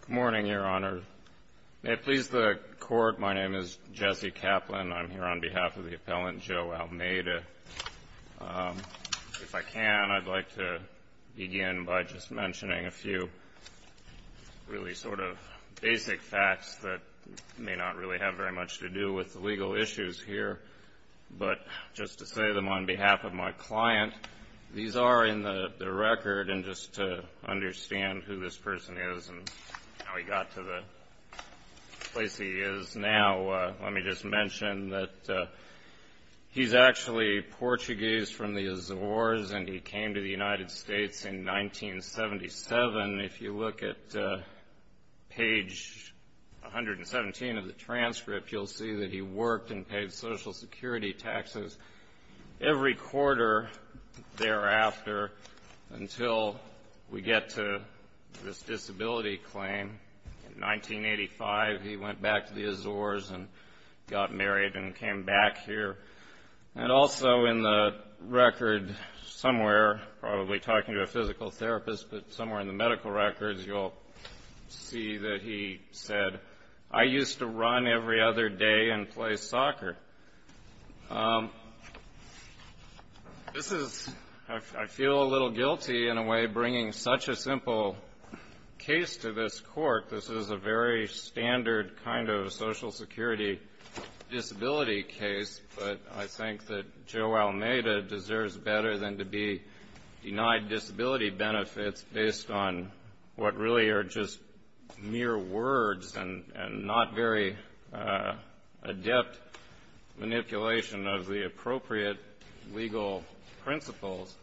Good morning, Your Honor. May it please the Court, my name is Jesse Kaplan. I'm here on behalf of the appellant Joe Almeida. If I can, I'd like to begin by just mentioning a few really sort of basic facts that may not really have very much to do with the legal issues here. But just to say them on behalf of my client, these are in the record and just to understand who this person is and how he got to the place he is now, let me just mention that he's actually Portuguese from the Azores and he came to the United States in 1977. If you look at page 117 of the transcript, you'll see that he worked and paid Social Security taxes every quarter thereafter until we get to this disability claim. In 1985, he went back to the Azores and got married and came back here. And also in the record somewhere, probably talking to a physical therapist, but somewhere in the medical records, you'll see that he said, I used to run every other day and play soccer. This is, I feel a little guilty in a way, bringing such a simple case to this Court. This is a very standard kind of Social Security disability case, but I think that Joe Almeida deserves better than to be denied disability benefits based on what really are just mere words and not very adept manipulation of the appropriate legal principles.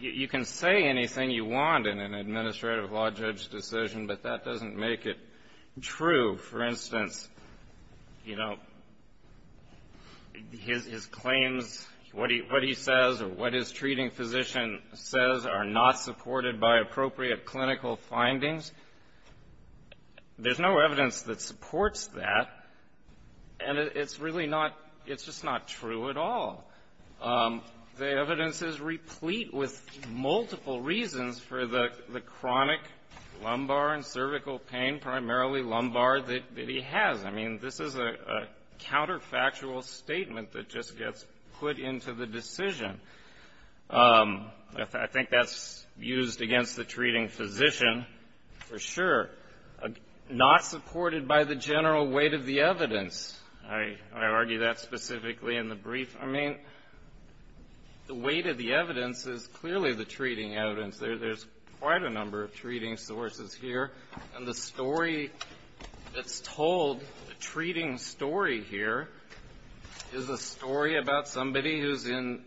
You can say anything you want in an administrative law judge decision, but that doesn't make it true. For instance, you know, his claims, what he says or what his treating physician says are not supported by appropriate clinical findings. There's no evidence that supports that, and it's really not, it's just not true at all. The evidence is replete with multiple reasons for the chronic lumbar and cervical pain, primarily lumbar, that he has. I mean, this is a counterfactual statement that just gets put into the decision. I think that's used against the treating physician for sure. Not supported by the general weight of the evidence. I argue that specifically in the brief. I mean, the weight of the evidence is clearly the treating evidence. There's quite a number of treating sources here, and the story that's told, the treating story here, is a story about somebody who's in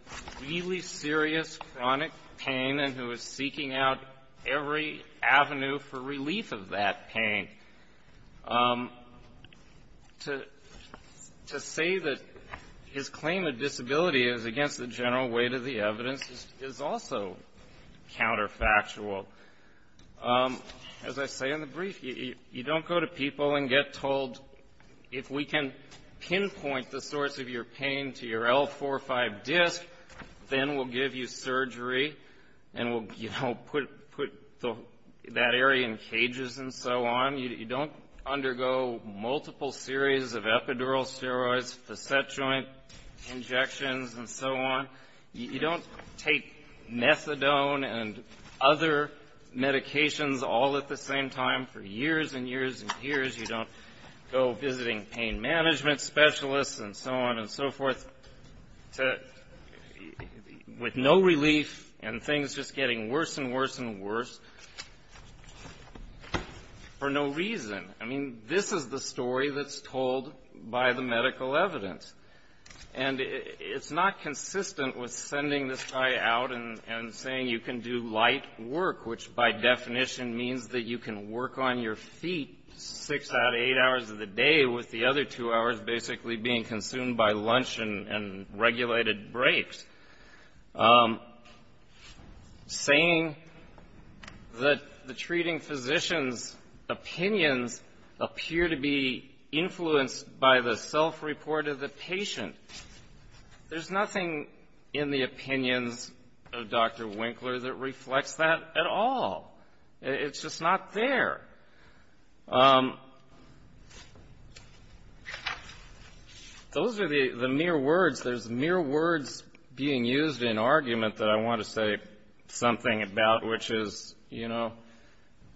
really serious chronic pain and who is seeking out every avenue for relief of that pain. To say that his claim of disability is against the general weight of the evidence is also counterfactual. As I say in the brief, you don't go to people and get told, if we can pinpoint the source of your pain to your L45 disc, then we'll give you surgery and we'll, you know, put that area in cages and so on. You don't undergo multiple series of epidural steroids, facet joint injections, and so on. You don't take methadone and other medications all at the same time for years and years and years. You don't go visiting pain management specialists and so on and so forth with no relief, and things just getting worse and worse and worse for no reason. I mean, this is the story that's told by the medical evidence. And it's not consistent with sending this guy out and saying you can do light work, which by definition means that you can work on your feet six out of eight hours of the day, with the other two hours basically being consumed by lunch and regulated breaks. Saying that the treating physician's opinions appear to be influenced by the self-report of the patient. There's nothing in the opinions of Dr. Winkler that reflects that at all. It's just not there. Those are the mere words. There's mere words being used in argument that I want to say something about, which is, you know,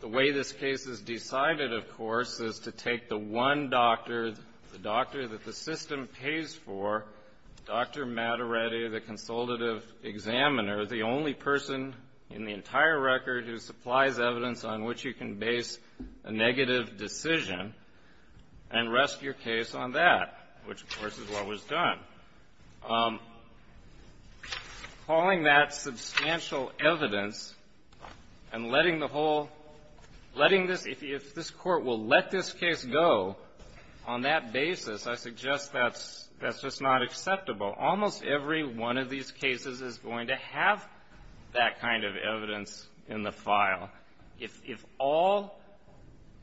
the way this case is decided, of course, is to take the one doctor, the doctor that the system pays for, Dr. Mattaretti, the consultative examiner, the only person in the entire record who supplies evidence on which you can base a negative decision and rest your case on that, which, of course, is what was done. Calling that substantial evidence and letting the whole, letting this, if this Court will let this case go on that basis, I suggest that's just not acceptable. Almost every one of these cases is going to have that kind of evidence in the file. If all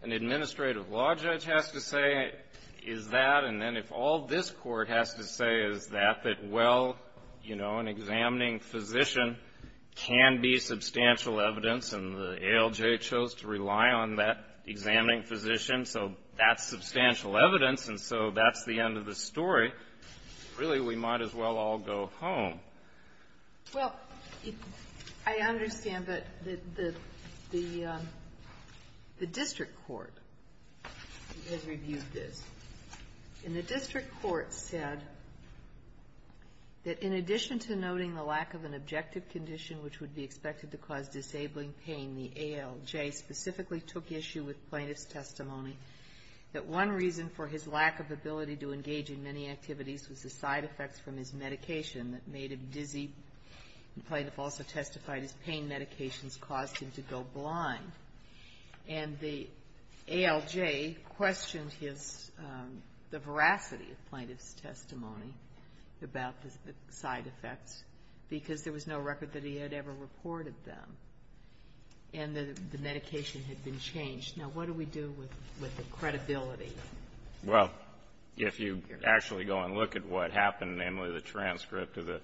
an administrative law judge has to say is that, and then if all this Court has to say is that, that well, you know, an examining physician can be substantial evidence, and the ALJ chose to rely on that examining physician, so that's substantial evidence, and so that's the end of the story, really we might as well all go home. Well, I understand that the district court has reviewed this. And the district court said that in addition to noting the lack of an objective condition which would be expected to cause disabling pain, the ALJ specifically took issue with plaintiff's testimony that one reason for his lack of ability to engage in many activities was the side effects from his medication that made him dizzy. The plaintiff also testified his pain medications caused him to go blind. And the ALJ questioned his, the veracity of plaintiff's testimony about the side effects, because there was no record that he had ever reported them. And the medication had been changed. Now, what do we do with the credibility? Well, if you actually go and look at what happened, namely the transcript of the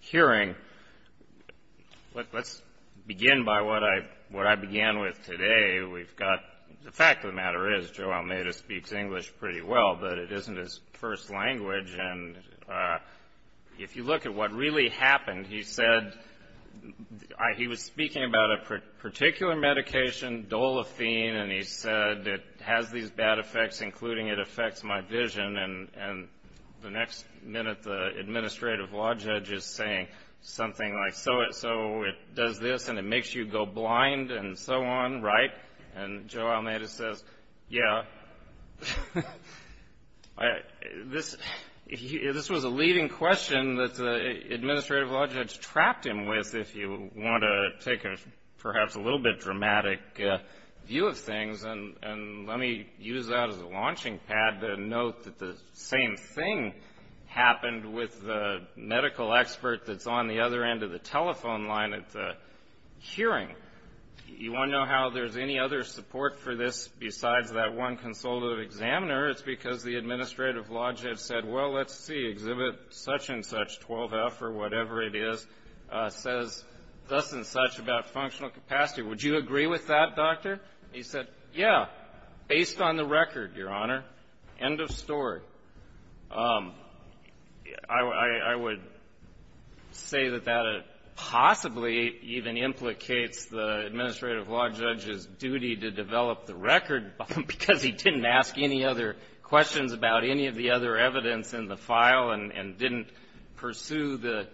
hearing, let's begin by what I began with today. We've got, the fact of the matter is Joe Almeida speaks English pretty well, but it isn't his first language. And if you look at what really happened, he said he was speaking about a particular medication, dolephine, and he said it has these bad effects, including it affects my vision. And the next minute the administrative law judge is saying something like, so it does this and it makes you go blind and so on, right? And Joe Almeida says, yeah, this was a leading question that the administrative law judge trapped him with, if you want to take a perhaps a little bit dramatic view of things. And let me use that as a launching pad to note that the same thing happened with the medical expert that's on the other end of the telephone line at the hearing. You want to know how there's any other support for this besides that one consultative examiner? It's because the administrative law judge said, well, let's see, exhibit such and such, 12F or whatever it is, says thus and such about functional capacity. Would you agree with that, Doctor? He said, yeah, based on the record, Your Honor. End of story. So I would say that that possibly even implicates the administrative law judge's duty to develop the record because he didn't ask any other questions about any of the other evidence in the file and didn't pursue the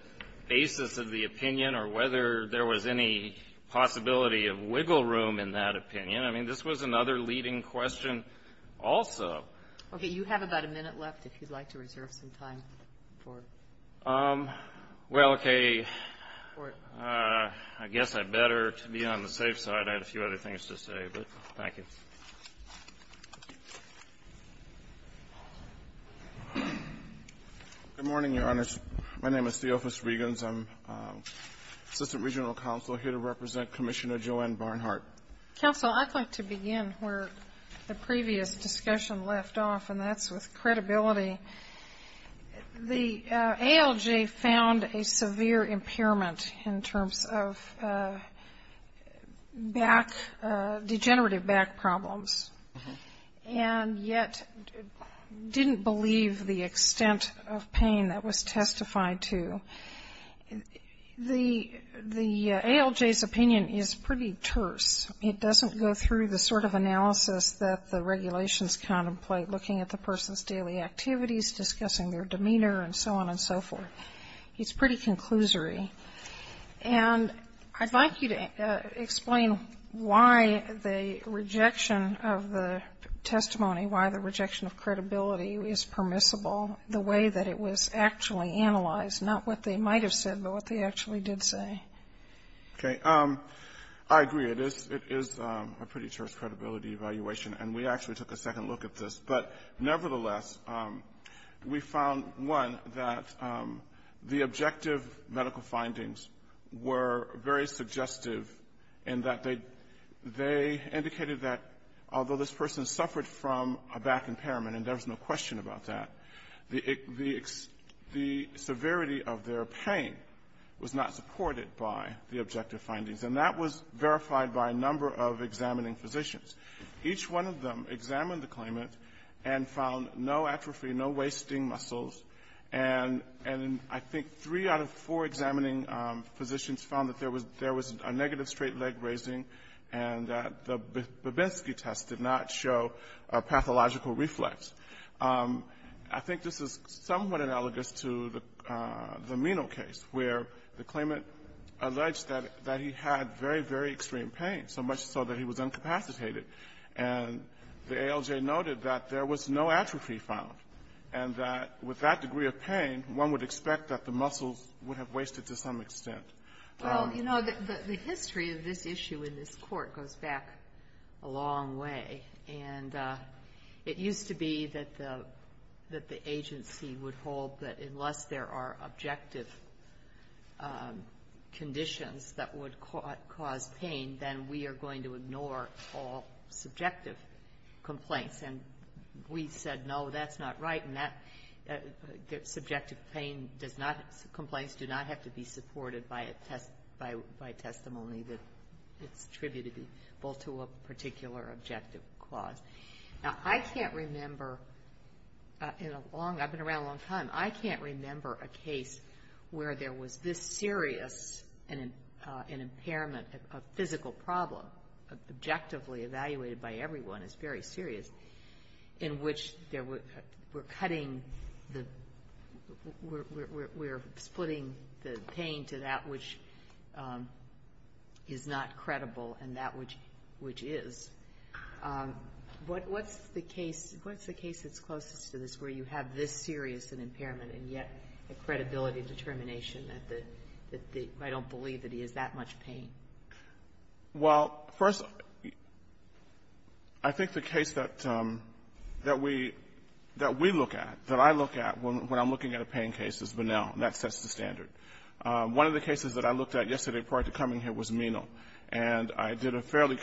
basis of the opinion or whether there was any possibility of wiggle room in that opinion. I mean, this was another leading question also. Okay. You have about a minute left if you'd like to reserve some time for it. Well, okay. I guess I better be on the safe side. I have a few other things to say, but thank you. Good morning, Your Honors. My name is Theophis Regans. I'm Assistant Regional Counsel here to represent Commissioner Joanne Barnhart. Counsel, I'd like to begin where the previous discussion left off, and that's with credibility. The ALJ found a severe impairment in terms of back, degenerative back problems, and yet didn't believe the extent of pain that was testified to. The ALJ's opinion is pretty terse. It doesn't go through the sort of analysis that the regulations contemplate, looking at the person's daily activities, discussing their demeanor, and so on and so forth. It's pretty conclusory. And I'd like you to explain why the rejection of the testimony, why the rejection of credibility is permissible the way that it was actually analyzed, not what they might have said, but what they actually did say. Okay. I agree. It is a pretty terse credibility evaluation, and we actually took a second look at this. But nevertheless, we found, one, that the objective medical findings were very suggestive in that they indicated that although this person suffered from a back impairment, and there was no question about that, the severity of their pain was not supported by the objective findings. And that was verified by a number of examining physicians. Each one of them examined the claimant and found no atrophy, no wasting muscles. And I think three out of four examining physicians found that there was a negative straight leg raising and that the Babinski test did not show a pathological reflex. I think this is somewhat analogous to the Meno case, where the claimant alleged that he had very, very extreme pain, so much so that he was incapacitated. And the ALJ noted that there was no atrophy found, and that with that degree of pain, one would expect that the muscles would have wasted to some extent. Well, you know, the history of this issue in this court goes back a long way. And it used to be that the agency would hold that unless there are objective conditions that would cause pain, then we are going to ignore all subjective complaints. And we said, no, that's not right, and that subjective complaints do not have to be supported by testimony that's attributed both to a particular objective clause. Now, I can't remember in a long ‑‑ I've been around a long time. I can't remember a case where there was this serious an impairment, a physical problem, objectively evaluated by everyone as very serious, in which we're cutting the ‑‑ we're splitting the pain to that which is not credible and that which is. What's the case that's closest to this, where you have this serious an impairment and yet a credibility determination that I don't believe that he has that much pain? Well, first, I think the case that we ‑‑ that we look at, that I look at when I'm looking at a pain case is Bonnell, and that sets the standard. One of the cases that I looked at yesterday prior to coming here was Meno, and I did a fairly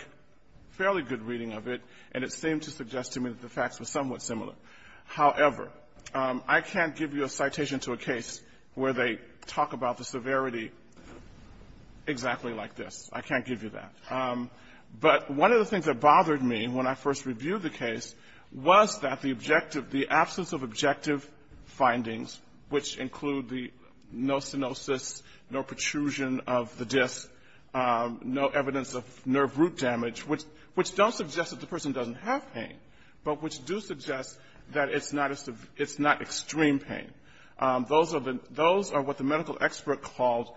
good reading of it, and it seemed to suggest to me that the facts were somewhat similar. However, I can't give you a citation to a case where they talk about the severity exactly like this. I can't give you that. But one of the things that bothered me when I first reviewed the case was that the objective ‑‑ the absence of objective findings, which include the no stenosis, no protrusion of the disc, no evidence of nerve root damage, which don't suggest that the person doesn't have pain, but which do suggest that it's not extreme pain. Those are what the medical expert called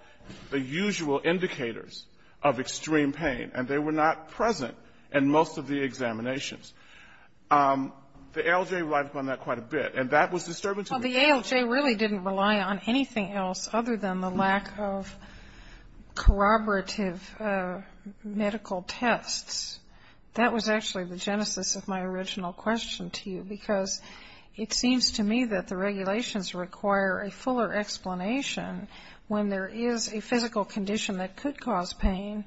the usual indicators of extreme pain, and they were not present in most of the examinations. The ALJ relied upon that quite a bit, and that was disturbing to me. Well, the ALJ really didn't rely on anything else other than the lack of corroborative medical tests. That was actually the genesis of my original question to you, because it does require a fuller explanation when there is a physical condition that could cause pain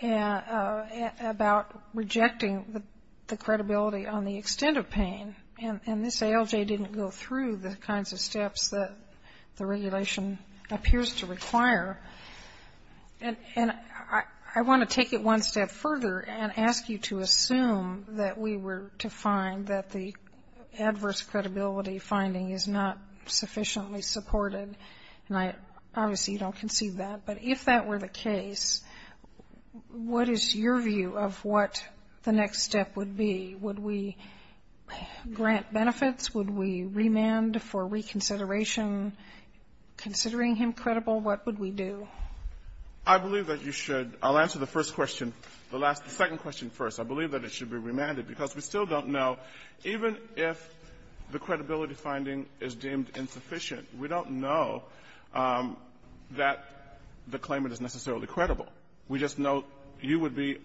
about rejecting the credibility on the extent of pain, and this ALJ didn't go through the kinds of steps that the regulation appears to require. And I want to take it one step further and ask you to assume that we were to find that the adverse credibility finding is not sufficiently supported, and I obviously don't conceive that, but if that were the case, what is your view of what the next step would be? Would we grant benefits? Would we remand for reconsideration? Considering him credible, what would we do? I believe that you should ‑‑ I'll answer the first question, the second question first. I believe that it should be remanded, because we still don't know, even if the credibility finding is deemed insufficient, we don't know that the claimant is necessarily credible. We just know you would be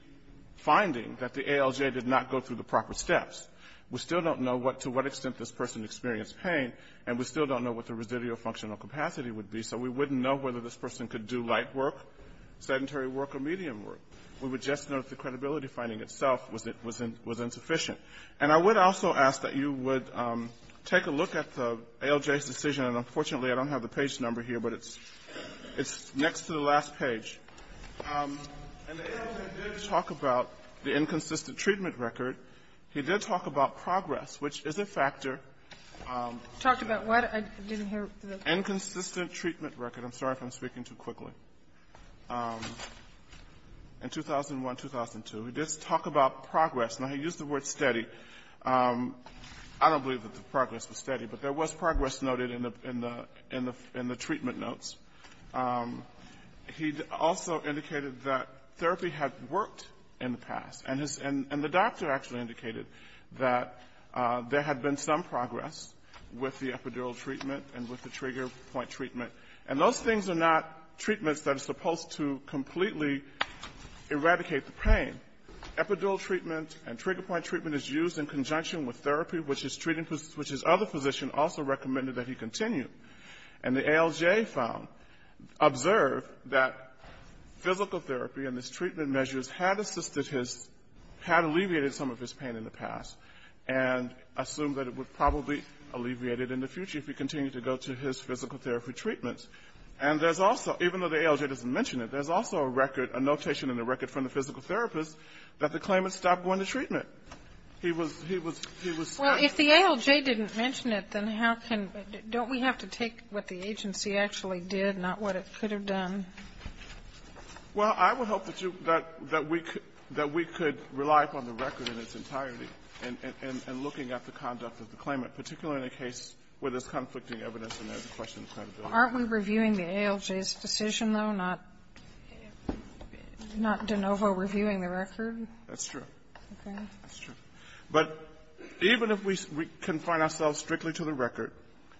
finding that the ALJ did not go through the proper steps. We still don't know to what extent this person experienced pain, and we still don't know what the residual functional capacity would be, so we wouldn't know whether this itself was insufficient. And I would also ask that you would take a look at the ALJ's decision, and unfortunately, I don't have the page number here, but it's next to the last page. And the ALJ did talk about the inconsistent treatment record. He did talk about progress, which is a factor. Talked about what? I didn't hear. Inconsistent treatment record. I'm sorry if I'm speaking too quickly. In 2001, 2002, he did talk about progress. Now, he used the word steady. I don't believe that the progress was steady, but there was progress noted in the treatment notes. He also indicated that therapy had worked in the past, and the doctor actually indicated that there had been some progress with the epidural treatment and with the trigger point treatment. And those things are not treatments that are supposed to completely eradicate the pain. Epidural treatment and trigger point treatment is used in conjunction with therapy, which his other physician also recommended that he continue. And the ALJ found, observed that physical therapy and his treatment measures had assisted his, had alleviated some of his pain in the past, and assumed that it would probably alleviate it in the future if he continued to go to his physical therapy treatments. And there's also, even though the ALJ doesn't mention it, there's also a record, a notation in the record from the physical therapist that the claimant stopped going to treatment. He was, he was, he was. Well, if the ALJ didn't mention it, then how can, don't we have to take what the agency actually did, not what it could have done? Well, I would hope that you, that we, that we could rely upon the record in its entirety in looking at the conduct of the claimant, particularly in a case where there's conflicting evidence and there's a question of credibility. Aren't we reviewing the ALJ's decision, though, not de novo reviewing the record? That's true. Okay. That's true. But even if we confine ourselves strictly to the record,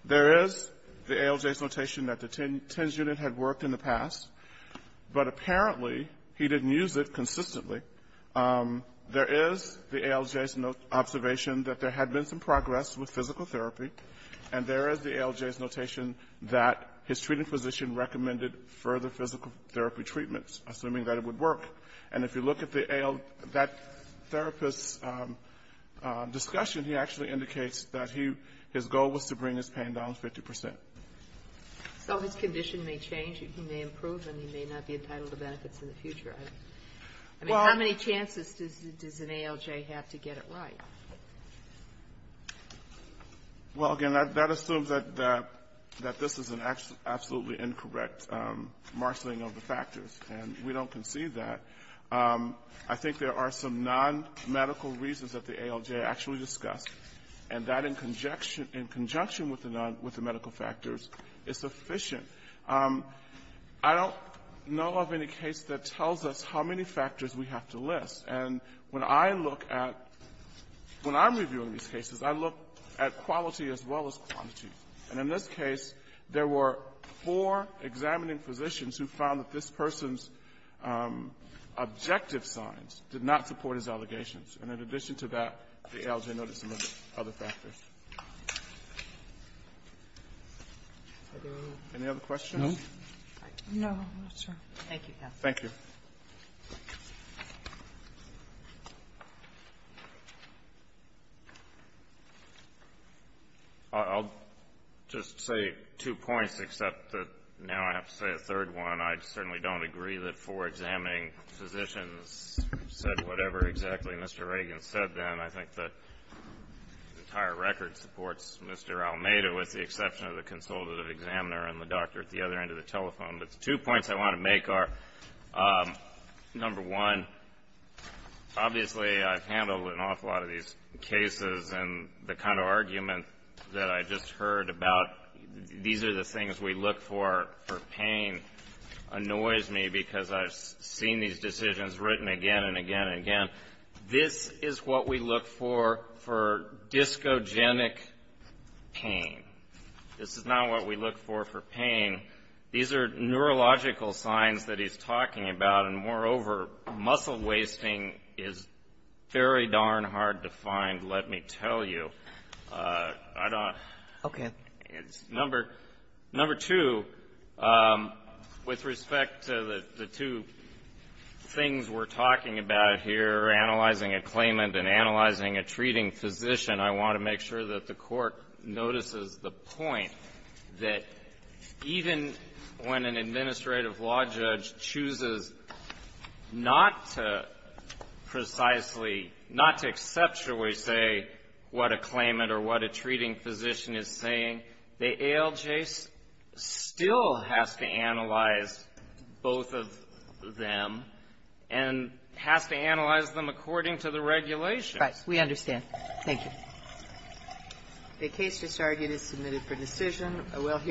there is the ALJ's notation that the TENS unit had worked in the past, but apparently he didn't use it consistently. There is the ALJ's observation that there had been some progress with physical therapy, and there is the ALJ's notation that his treating physician recommended further physical therapy treatments, assuming that it would work. And if you look at the AL, that therapist's discussion, he actually indicates that he, his goal was to bring his pain down 50 percent. So his condition may change, he may improve, and he may not be entitled to benefits in the future. I mean, how many chances does an ALJ have to get it right? Well, again, that assumes that this is an absolutely incorrect marshaling of the factors, and we don't concede that. I think there are some nonmedical reasons that the ALJ actually discussed, and that in conjunction with the medical factors is sufficient. I don't know of any case that tells us how many factors we have to list. And when I look at, when I'm reviewing these cases, I look at quality as well as quantity. And in this case, there were four examining physicians who found that this person's objective signs did not support his allegations. And in addition to that, the ALJ noted some other factors. Any other questions? No. Thank you, counsel. Thank you. I'll just say two points, except that now I have to say a third one. I certainly don't agree that four examining physicians said whatever exactly Mr. Reagan said then. I think the entire record supports Mr. Almeida with the exception of the consultative examiner and the doctor at the other end of the telephone. But the two points I want to make are, number one, obviously I've handled an awful lot of these cases, and the kind of argument that I just heard about, these are the things we look for for pain, annoys me because I've seen these decisions written again and again and again. This is what we look for for discogenic pain. This is not what we look for for pain. These are neurological signs that he's talking about, and moreover, muscle wasting is very darn hard to find, let me tell you. I don't --" Okay. Number two, with respect to the two things we're talking about here, analyzing a claimant and analyzing a treating physician, I want to make sure that the Court notices the point that even when an administrative law judge chooses not to precisely say what a claimant or what a treating physician is saying, the ALJ still has to analyze both of them and has to analyze them according to the regulations. Right. We understand. Thank you. The case just argued is submitted for decision.